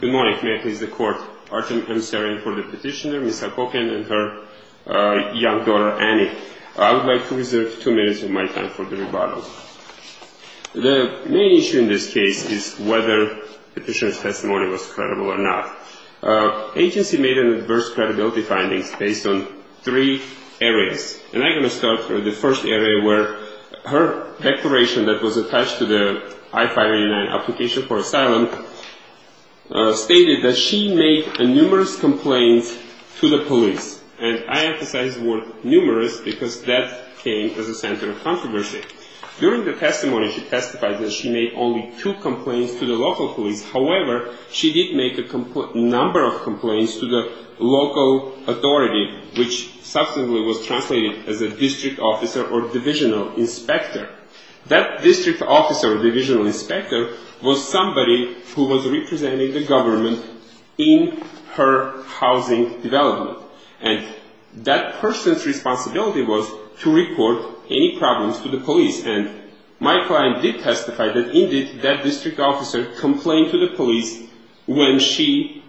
Good morning. May I please the court? Artem M. Sarin for the petitioner, Ms. Halkobyan and her young daughter, Annie. I would like to reserve two minutes of my time for the rebuttal. The main issue in this case is whether the petitioner's testimony was credible or not. Agency made an adverse credibility findings based on three areas. And I'm going to start with the first area where her declaration that was attached to the I-589 application for asylum stated that she made numerous complaints to the police. And I emphasize the word numerous because that came as a center of controversy. During the testimony, she testified that she made only two complaints to the local police. However, she did make a number of complaints to the local authority, which subsequently was translated as a district officer or divisional inspector. That district officer or divisional inspector was somebody who was representing the government in her housing development. And that person's responsibility was to report any problems to the police. And my client did testify that, indeed, that district officer complained to the police when she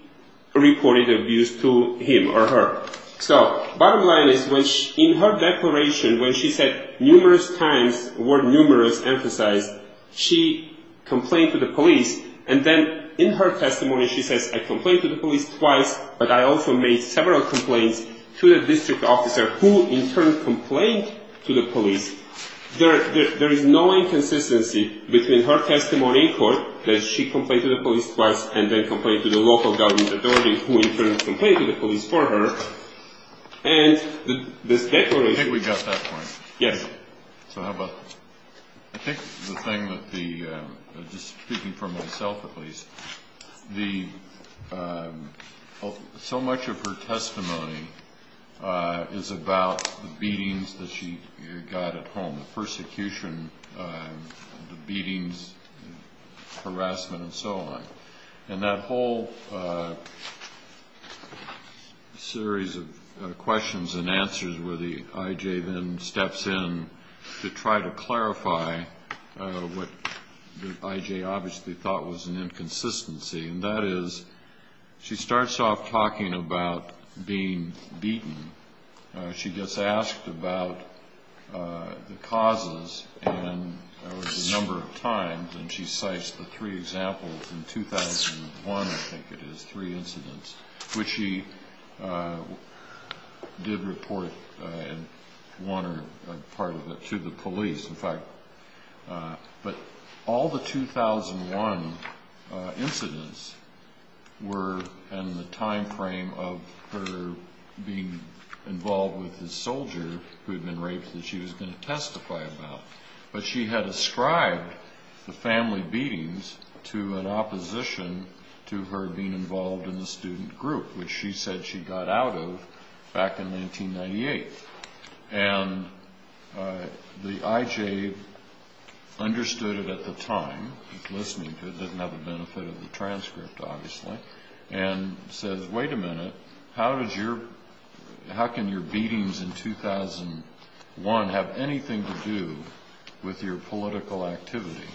reported abuse to him or her. So bottom line is, in her declaration, when she said numerous times, the word numerous emphasized, she complained to the police. And then in her testimony, she says, I complained to the police twice, but I also made several complaints to the district officer, who, in turn, complained to the police. There is no inconsistency between her testimony in court, that she complained to the police twice, and then complained to the local government authority, who, in turn, complained to the police for her, and this declaration. I think we got that point. Yes. So how about, I think the thing that the, just speaking for myself at least, the, so much of her testimony is about the beatings that she got at home, the persecution, the beatings, harassment, and so on. And that whole series of questions and answers where the I.J. then steps in to try to clarify what the I.J. obviously thought was an inconsistency, and that is, she starts off talking about being beaten. She gets asked about the causes a number of times, and she cites the three examples in 2001, I think it is, three incidents, which she did report in one or part of it to the police, in fact. But all the 2001 incidents were in the time frame of her being involved with this soldier who had been raped that she was going to testify about. But she had ascribed the family beatings to an opposition to her being involved in the student group, which she said she got out of back in 1998. And the I.J. understood it at the time, listening to it, didn't have the benefit of the transcript obviously, and says, wait a minute, how did your, how can your beatings in 2001 have anything to do with your political activity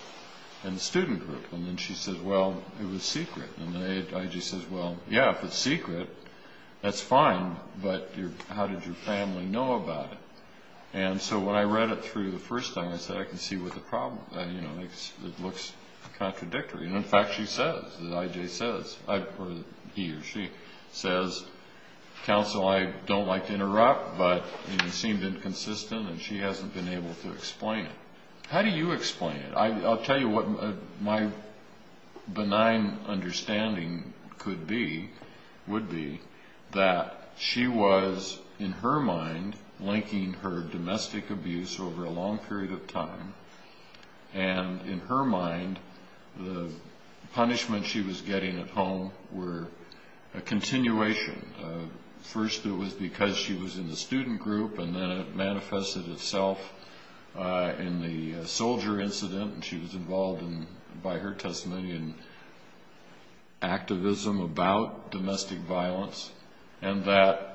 in the student group? And then she says, well, it was secret. And the I.J. says, well, yeah, if it's secret, that's fine, but how did your family know about it? And so when I read it through the first time, I said, I can see what the problem, you know, it looks contradictory. And in fact, she says, the I.J. says, he or she says, Counsel, I don't like to interrupt, but it seemed inconsistent, and she hasn't been able to explain it. How do you explain it? I'll tell you what my benign understanding could be, would be, that she was, in her mind, linking her domestic abuse over a long period of time. And in her mind, the punishment she was getting at home were a continuation. First it was because she was in the student group, and then it manifested itself in the soldier incident, and she was involved in, by her testimony, in activism about domestic violence, and that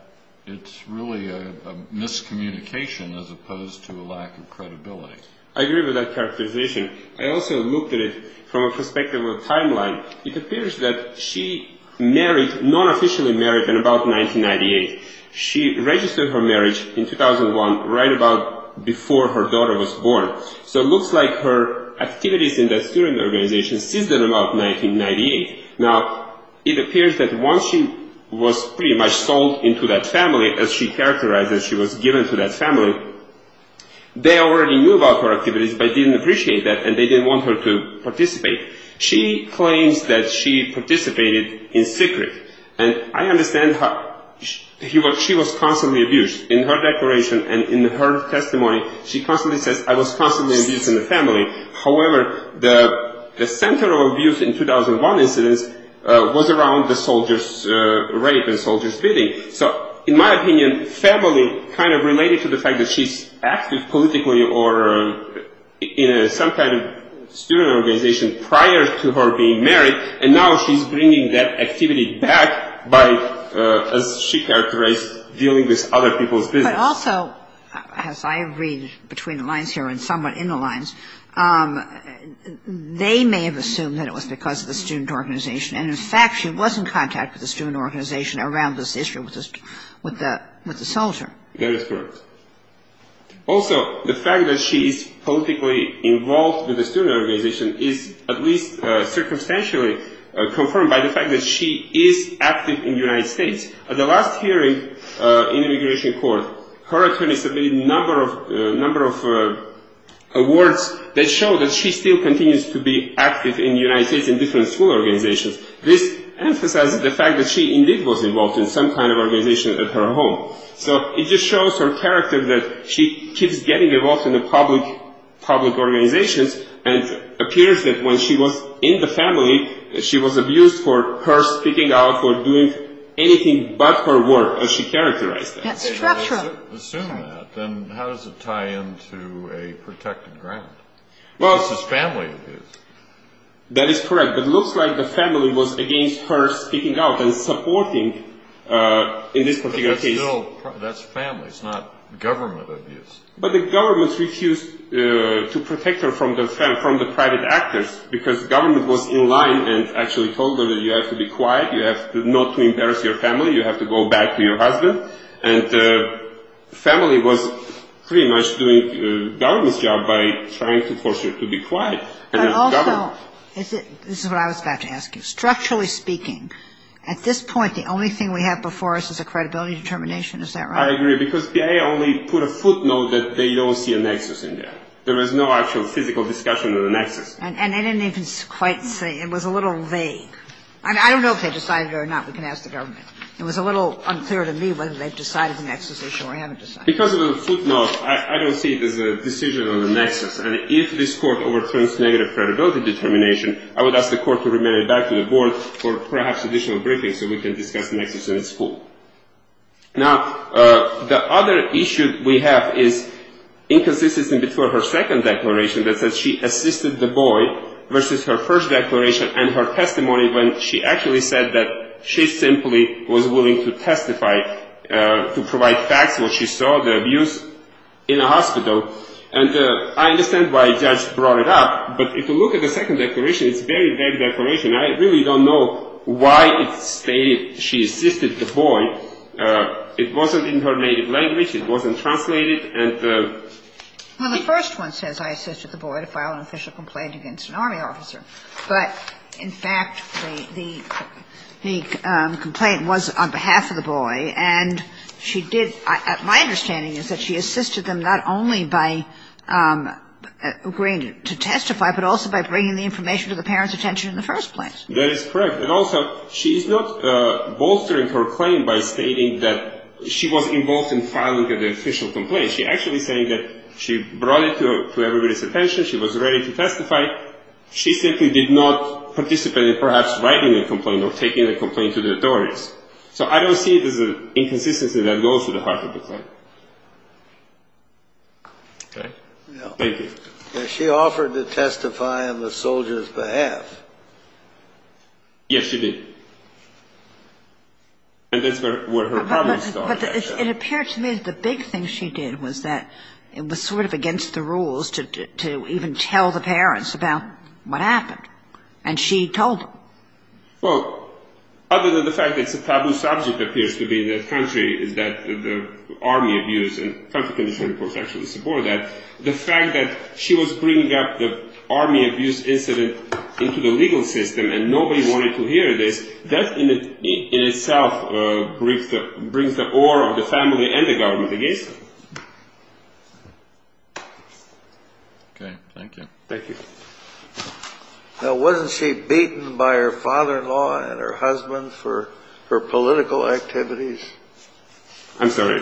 it's really a miscommunication as opposed to a lack of credibility. I agree with that characterization. I also looked at it from a perspective of timeline. It appears that she married, non-officially married, in about 1998. She registered her marriage in 2001, right about before her daughter was born. So it looks like her activities in that student organization ceased in about 1998. Now, it appears that once she was pretty much sold into that family, as she characterized as she was given to that family, they already knew about her activities, but didn't appreciate that, and they didn't want her to participate. She claims that she participated in secret, and I understand how she was constantly abused. In her declaration and in her testimony, she constantly says, I was constantly abused in the family. However, the center of abuse in 2001 incidents was around the soldiers' rape and soldiers' beating. So in my opinion, family kind of related to the fact that she's active politically or in some kind of student organization prior to her being married, and now she's bringing that activity back by, as she characterized, dealing with other people's business. But also, as I read between the lines here and somewhat in the lines, they may have assumed that it was because of the student organization. And, in fact, she was in contact with the student organization around this issue with the soldier. That is correct. Also, the fact that she is politically involved with the student organization is at least circumstantially confirmed by the fact that she is active in the United States. At the last hearing in immigration court, her attorney submitted a number of awards that show that she still continues to be active in the United States in different school organizations. This emphasizes the fact that she indeed was involved in some kind of organization at her home. So it just shows her character that she keeps getting involved in the public organizations and appears that when she was in the family, she was abused for her speaking out or doing anything but her work, as she characterized that. Assume that, then how does it tie into a protected ground? This is family abuse. That is correct. But it looks like the family was against her speaking out and supporting, in this particular case, No, that's family, it's not government abuse. But the government refused to protect her from the private actors because the government was in line and actually told her that you have to be quiet, you have to not embarrass your family, you have to go back to your husband. And the family was pretty much doing the government's job by trying to force her to be quiet. But also, this is what I was about to ask you. Structurally speaking, at this point, the only thing we have before us is a credibility determination. Is that right? I agree, because BIA only put a footnote that they don't see a nexus in there. There was no actual physical discussion of the nexus. And they didn't even quite say. It was a little vague. I don't know if they decided it or not. We can ask the government. It was a little unclear to me whether they decided the nexus issue or haven't decided. Because of the footnote, I don't see it as a decision on the nexus. And if this court overturns negative credibility determination, I would ask the court to remain back to the board for perhaps additional briefings so we can discuss the nexus in school. Now, the other issue we have is inconsistency between her second declaration that says she assisted the boy versus her first declaration and her testimony when she actually said that she simply was willing to testify, to provide facts, what she saw, the abuse in a hospital. And I understand why a judge brought it up. But if you look at the second declaration, it's a very vague declaration. I really don't know why it stated she assisted the boy. It wasn't in her native language. It wasn't translated. And the ---- Well, the first one says I assisted the boy to file an official complaint against an Army officer. But, in fact, the complaint was on behalf of the boy. And she did ---- my understanding is that she assisted them not only by agreeing to testify, but also by bringing the information to the parent's attention in the first place. That is correct. And also she's not bolstering her claim by stating that she was involved in filing an official complaint. She's actually saying that she brought it to everybody's attention. She was ready to testify. She simply did not participate in perhaps writing a complaint or taking a complaint to the authorities. So I don't see it as an inconsistency that goes to the heart of the claim. Okay. Thank you. Now, she offered to testify on the soldier's behalf. Yes, she did. And that's where her problem started. But it appeared to me the big thing she did was that it was sort of against the rules to even tell the parents about what happened. And she told them. Well, other than the fact that it's a taboo subject, it appears to be, in this country, is that the army abuse and country condition reports actually support that. The fact that she was bringing up the army abuse incident into the legal system and nobody wanted to hear this, that in itself brings the awe of the family and the government against her. Okay. Thank you. Thank you. Now, wasn't she beaten by her father-in-law and her husband for her political activities? I'm sorry.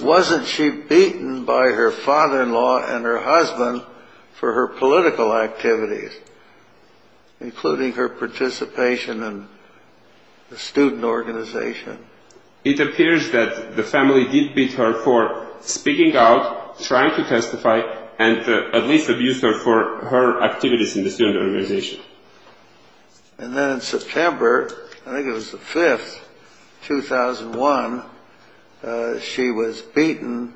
Wasn't she beaten by her father-in-law and her husband for her political activities, including her participation in the student organization? It appears that the family did beat her for speaking out, trying to testify, and at least abused her for her activities in the student organization. And then in September, I think it was the 5th, 2001, she was beaten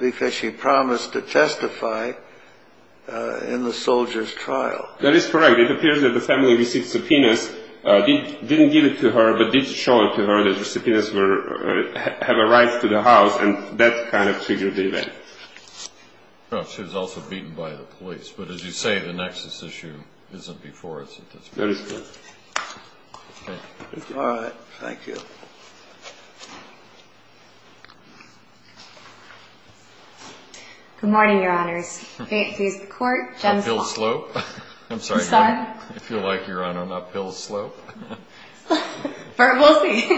because she promised to testify in the soldier's trial. That is correct. It appears that the family received subpoenas, didn't give it to her, but did show it to her that the subpoenas have a right to the house, and that kind of triggered the event. She was also beaten by the police. But as you say, the nexus issue isn't before it's at this point. That is correct. Thank you. Good morning, Your Honors. I feel like you're on an uphill slope. We'll see.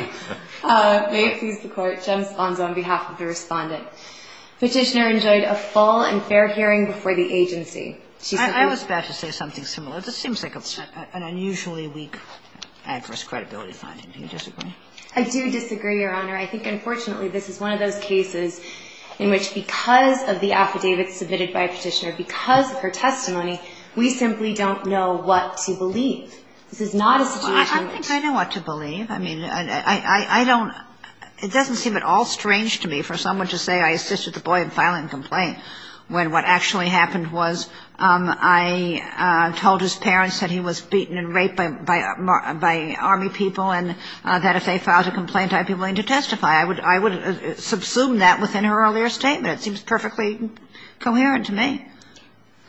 May it please the Court, Jem Spohn is on behalf of the Respondent. Petitioner enjoyed a full and fair hearing before the agency. I was about to say something similar. This seems like an unusually weak adverse credibility finding. Do you disagree? I do disagree, Your Honor. I think, unfortunately, this is one of those cases in which because of the affidavits submitted by a petitioner, because of her testimony, we simply don't know what to believe. This is not a situation that ---- I think I know what to believe. I mean, I don't ---- it doesn't seem at all strange to me for someone to say I assisted the boy in filing a complaint when what actually happened was I told his parents that he was beaten and raped by Army people and that if they filed a complaint, I'd be willing to testify. I would subsume that within her earlier statement. It seems perfectly coherent to me.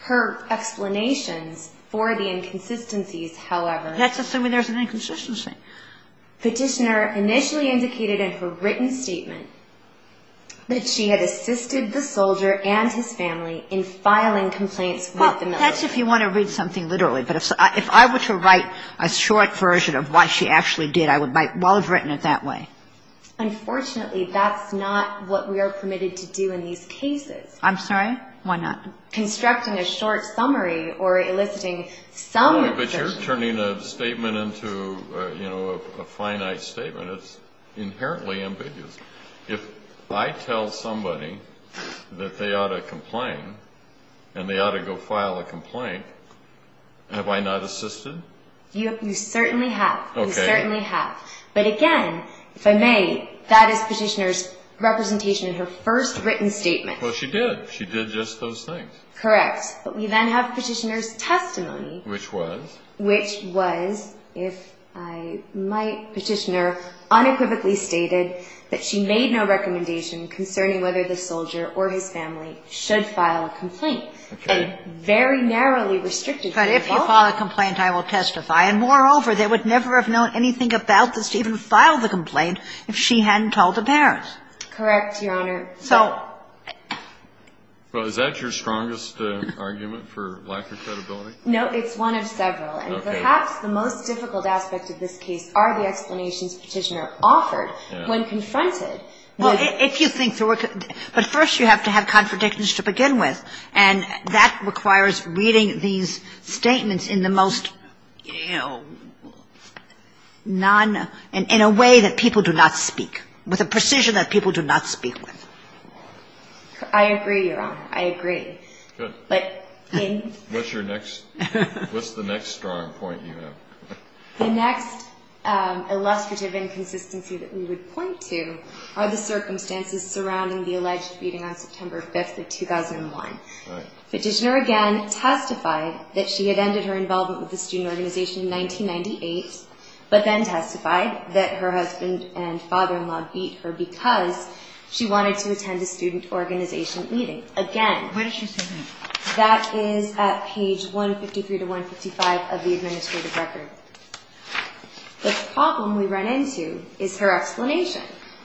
Her explanations for the inconsistencies, however ---- Let's assume there's an inconsistency. Petitioner initially indicated in her written statement that she had assisted the soldier and his family in filing complaints with the military. Well, that's if you want to read something literally. But if I were to write a short version of what she actually did, I might well have written it that way. Unfortunately, that's not what we are permitted to do in these cases. I'm sorry? Why not? Constructing a short summary or eliciting some ---- But you're turning a statement into, you know, a finite statement. It's inherently ambiguous. If I tell somebody that they ought to complain and they ought to go file a complaint, have I not assisted? You certainly have. Okay. You certainly have. But again, if I may, that is Petitioner's representation in her first written statement. Well, she did. She did just those things. Correct. But we then have Petitioner's testimony. Which was? Which was, if I might, Petitioner unequivocally stated that she made no recommendation concerning whether the soldier or his family should file a complaint. Okay. And very narrowly restricted the involvement. But if you file a complaint, I will testify. And moreover, they would never have known anything about this to even file the complaint if she hadn't told the parents. Correct, Your Honor. So ---- Well, is that your strongest argument for lack of credibility? No, it's one of several. Okay. And perhaps the most difficult aspect of this case are the explanations Petitioner offered when confronted with ---- Well, if you think there were ---- But first you have to have contradictions to begin with. And that requires reading these statements in the most non ---- in a way that people do not speak, with a precision that people do not speak with. I agree, Your Honor. I agree. Good. But in ---- What's your next ---- What's the next strong point you have? The next illustrative inconsistency that we would point to are the circumstances surrounding the alleged beating on September 5th of 2001. Petitioner, again, testified that she had ended her involvement with the student organization in 1998, but then testified that her husband and father-in-law beat her because she wanted to attend a student organization meeting. Again ---- What does she say that? That is at page 153 to 155 of the administrative record. The problem we run into is her explanation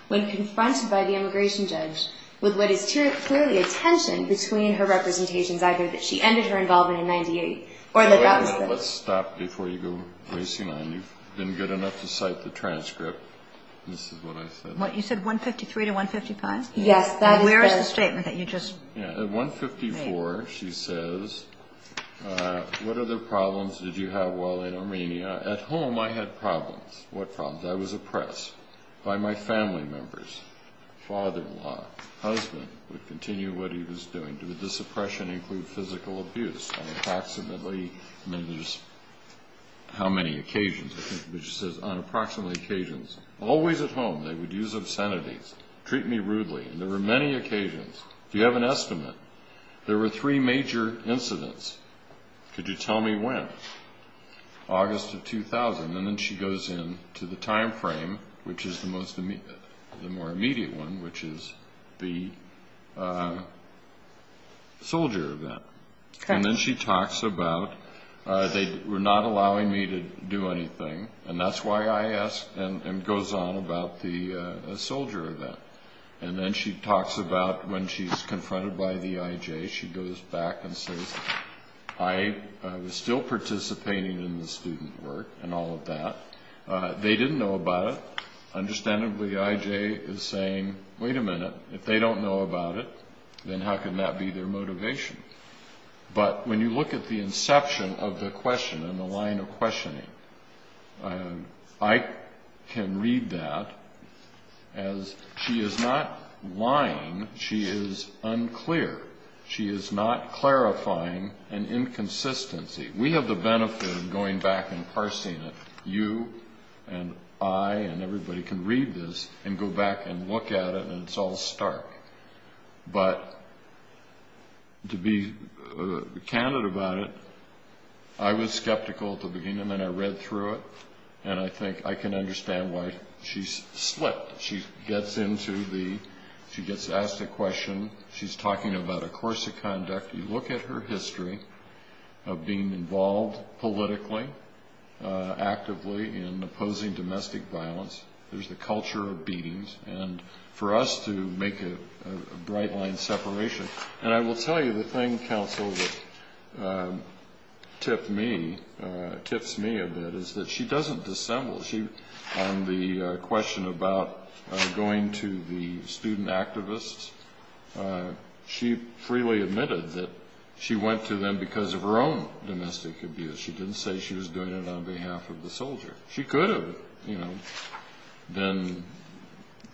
when confronted by the immigration judge with what is clearly a tension between her representations, either that she ended her involvement in 1998 or that that was the ---- Let's stop before you go racing on. You've been good enough to cite the transcript. This is what I said. What? You said 153 to 155? Yes. That is the ---- And where is the statement that you just ---- At 154, she says, what other problems did you have while in Armenia? At home, I had problems. What problems? I was oppressed by my family members. Father-in-law, husband, would continue what he was doing. Did this oppression include physical abuse on approximately ---- How many occasions? She says on approximately occasions. Always at home, they would use obscenities. Treat me rudely. There were many occasions. Do you have an estimate? There were three major incidents. Could you tell me when? August of 2000. And then she goes in to the time frame, which is the more immediate one, which is the soldier event. And then she talks about, they were not allowing me to do anything. And that's why I ask and goes on about the soldier event. And then she talks about when she's confronted by the IJ. She goes back and says, I was still participating in the student work and all of that. They didn't know about it. Understandably, the IJ is saying, wait a minute. If they don't know about it, then how can that be their motivation? But when you look at the inception of the question and the line of questioning, I can read that as she is not lying. She is unclear. She is not clarifying an inconsistency. We have the benefit of going back and parsing it. You and I and everybody can read this and go back and look at it, and it's all stark. But to be candid about it, I was skeptical at the beginning, and I read through it, and I think I can understand why she slipped. She gets asked a question. She's talking about a course of conduct. You look at her history of being involved politically, actively in opposing domestic violence. There's the culture of beatings. And for us to make a bright line separation. And I will tell you the thing, counsel, that tips me a bit is that she doesn't dissemble. On the question about going to the student activists, she freely admitted that she went to them because of her own domestic abuse. She didn't say she was doing it on behalf of the soldier. She could have, you know, then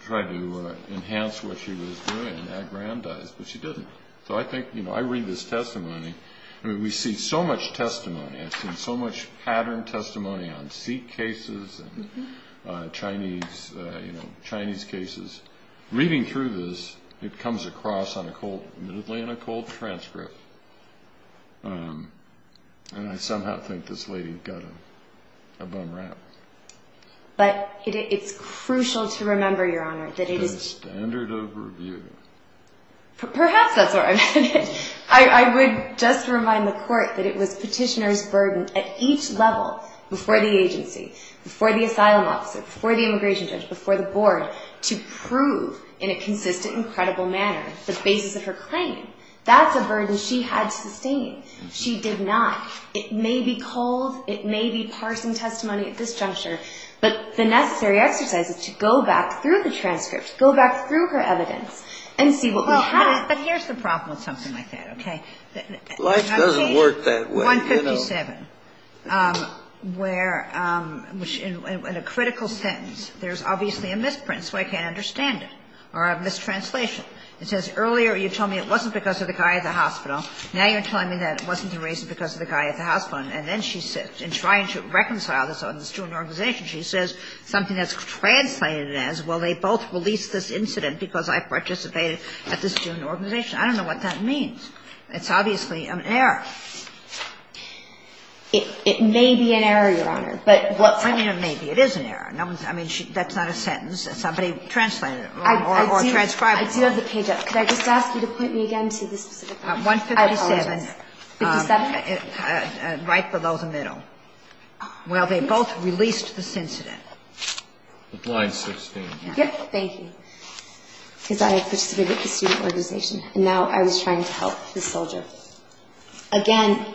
tried to enhance what she was doing, aggrandize, but she didn't. So I think, you know, I read this testimony. I mean, we see so much testimony. I've seen so much pattern testimony on seat cases and Chinese cases. Reading through this, it comes across on a cold, admittedly, on a cold transcript. And I somehow think this lady got a bum rap. But it's crucial to remember, Your Honor, that it is. The standard of review. Perhaps that's where I'm headed. I would just remind the court that it was petitioner's burden at each level, before the agency, before the asylum officer, before the immigration judge, before the board, to prove in a consistent and credible manner the basis of her claim. That's a burden she had to sustain. She did not. It may be cold. It may be parsing testimony at this juncture. But the necessary exercise is to go back through the transcript, go back through her evidence, and see what we have. But here's the problem with something like that, okay? Life doesn't work that way. I'm seeing 157, where in a critical sentence, there's obviously a misprint, so I can't understand it, or a mistranslation. It says, earlier you told me it wasn't because of the guy at the hospital. Now you're telling me that it wasn't the reason because of the guy at the hospital. And then she says, in trying to reconcile this on the student organization, she says something that's translated as, well, they both released this incident because I participated at this student organization. I don't know what that means. It's obviously an error. It may be an error, Your Honor. I mean, it may be. It is an error. I mean, that's not a sentence that somebody translated or transcribed. I do have the page up. Could I just ask you to point me again to the specific file? I apologize. 157. Right below the middle. Well, they both released this incident. The blind 16. Yes. Thank you. Because I participated at the student organization, and now I was trying to help this soldier. Again.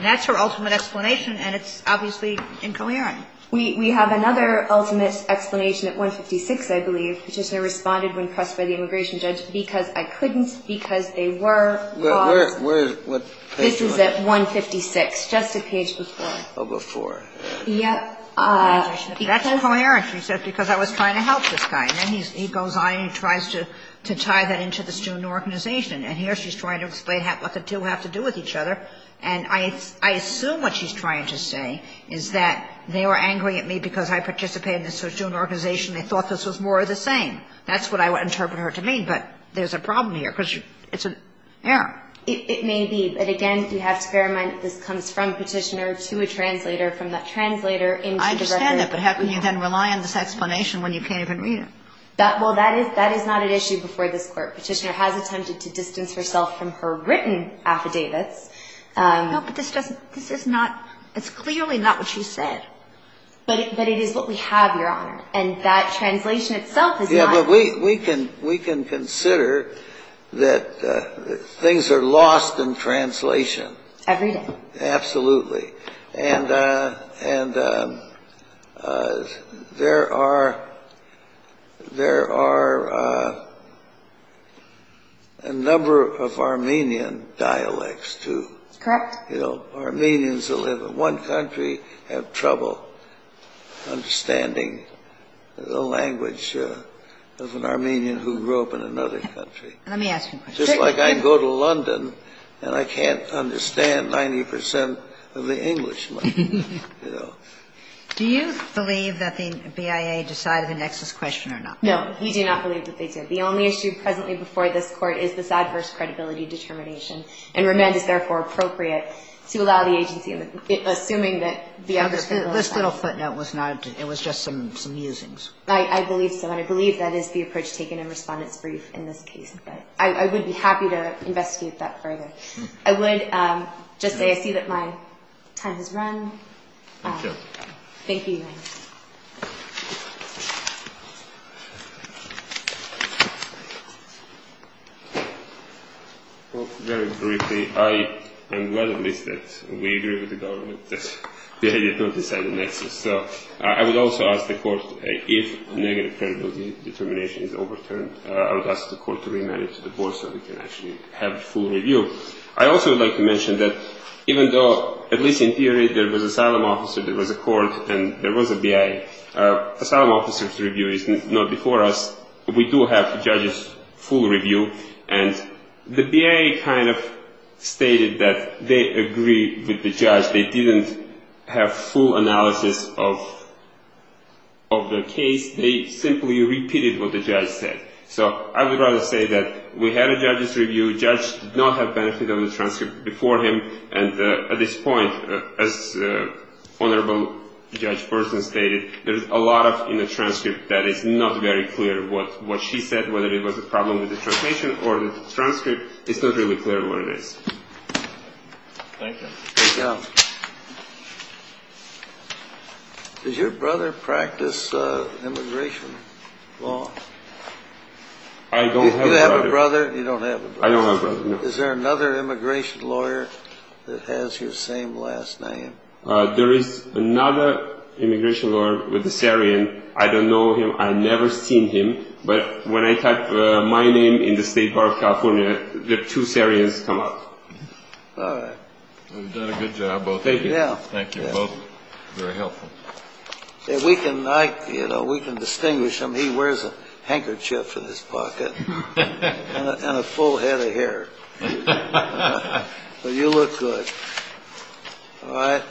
That's her ultimate explanation, and it's obviously incoherent. We have another ultimate explanation at 156, I believe. I just responded when pressed by the immigration judge because I couldn't, because they were. Where is it? This is at 156, just a page before. Oh, before. Yes. That's incoherent. She said, because I was trying to help this guy. And then he goes on and he tries to tie that into the student organization. And here she's trying to explain what the two have to do with each other. And I assume what she's trying to say is that they were angry at me because I participated in this student organization. They thought this was more of the same. That's what I would interpret her to mean. But there's a problem here because it's an error. It may be. But, again, you have to bear in mind that this comes from Petitioner to a translator, from that translator into the record. I understand that. But how can you then rely on this explanation when you can't even read it? Well, that is not an issue before this Court. Petitioner has attempted to distance herself from her written affidavits. No, but this doesn't. This is not. It's clearly not what she said. But it is what we have, Your Honor. And that translation itself is not. Yeah, but we can consider that things are lost in translation. Every day. Absolutely. And there are a number of Armenian dialects, too. Correct. Armenians who live in one country have trouble understanding the language of an Armenian who grew up in another country. Let me ask you a question. Just like I go to London and I can't understand 90 percent of the English language. Do you believe that the BIA decided the nexus question or not? No, we do not believe that they did. The only issue presently before this Court is this adverse credibility determination and remand is therefore appropriate to allow the agency, assuming that the other state does not. This little footnote was not. It was just some usings. I believe so. And I believe that is the approach taken in Respondent's brief in this case. But I would be happy to investigate that further. I would just say I see that my time has run. Thank you. Thank you, Your Honor. Well, very briefly, I am glad at least that we agree with the government that they did not decide the nexus. So I would also ask the Court, if negative credibility determination is overturned, I would ask the Court to remand it to the Board so we can actually have a full review. I also would like to mention that even though, at least in theory, there was an asylum officer, there was a Court, and there was a BIA, asylum officer's review is not before us. We do have the judge's full review. And the BIA kind of stated that they agree with the judge. They didn't have full analysis of the case. They simply repeated what the judge said. So I would rather say that we had a judge's review. The judge did not have benefit of the transcript before him. And at this point, as Honorable Judge Person stated, there is a lot in the transcript that is not very clear. What she said, whether it was a problem with the translation or the transcript, it's not really clear what it is. Thank you. Thank you. Does your brother practice immigration law? I don't have a brother. You have a brother. You don't have a brother. I don't have a brother. Is there another immigration lawyer that has your same last name? There is another immigration lawyer with a Syrian. I don't know him. I've never seen him. But when I type my name in the State Bar of California, the two Syrians come up. All right. Well, you've done a good job, both of you. Thank you. Thank you, both. Very helpful. We can distinguish them. He wears a handkerchief in his pocket and a full head of hair. But you look good. All right.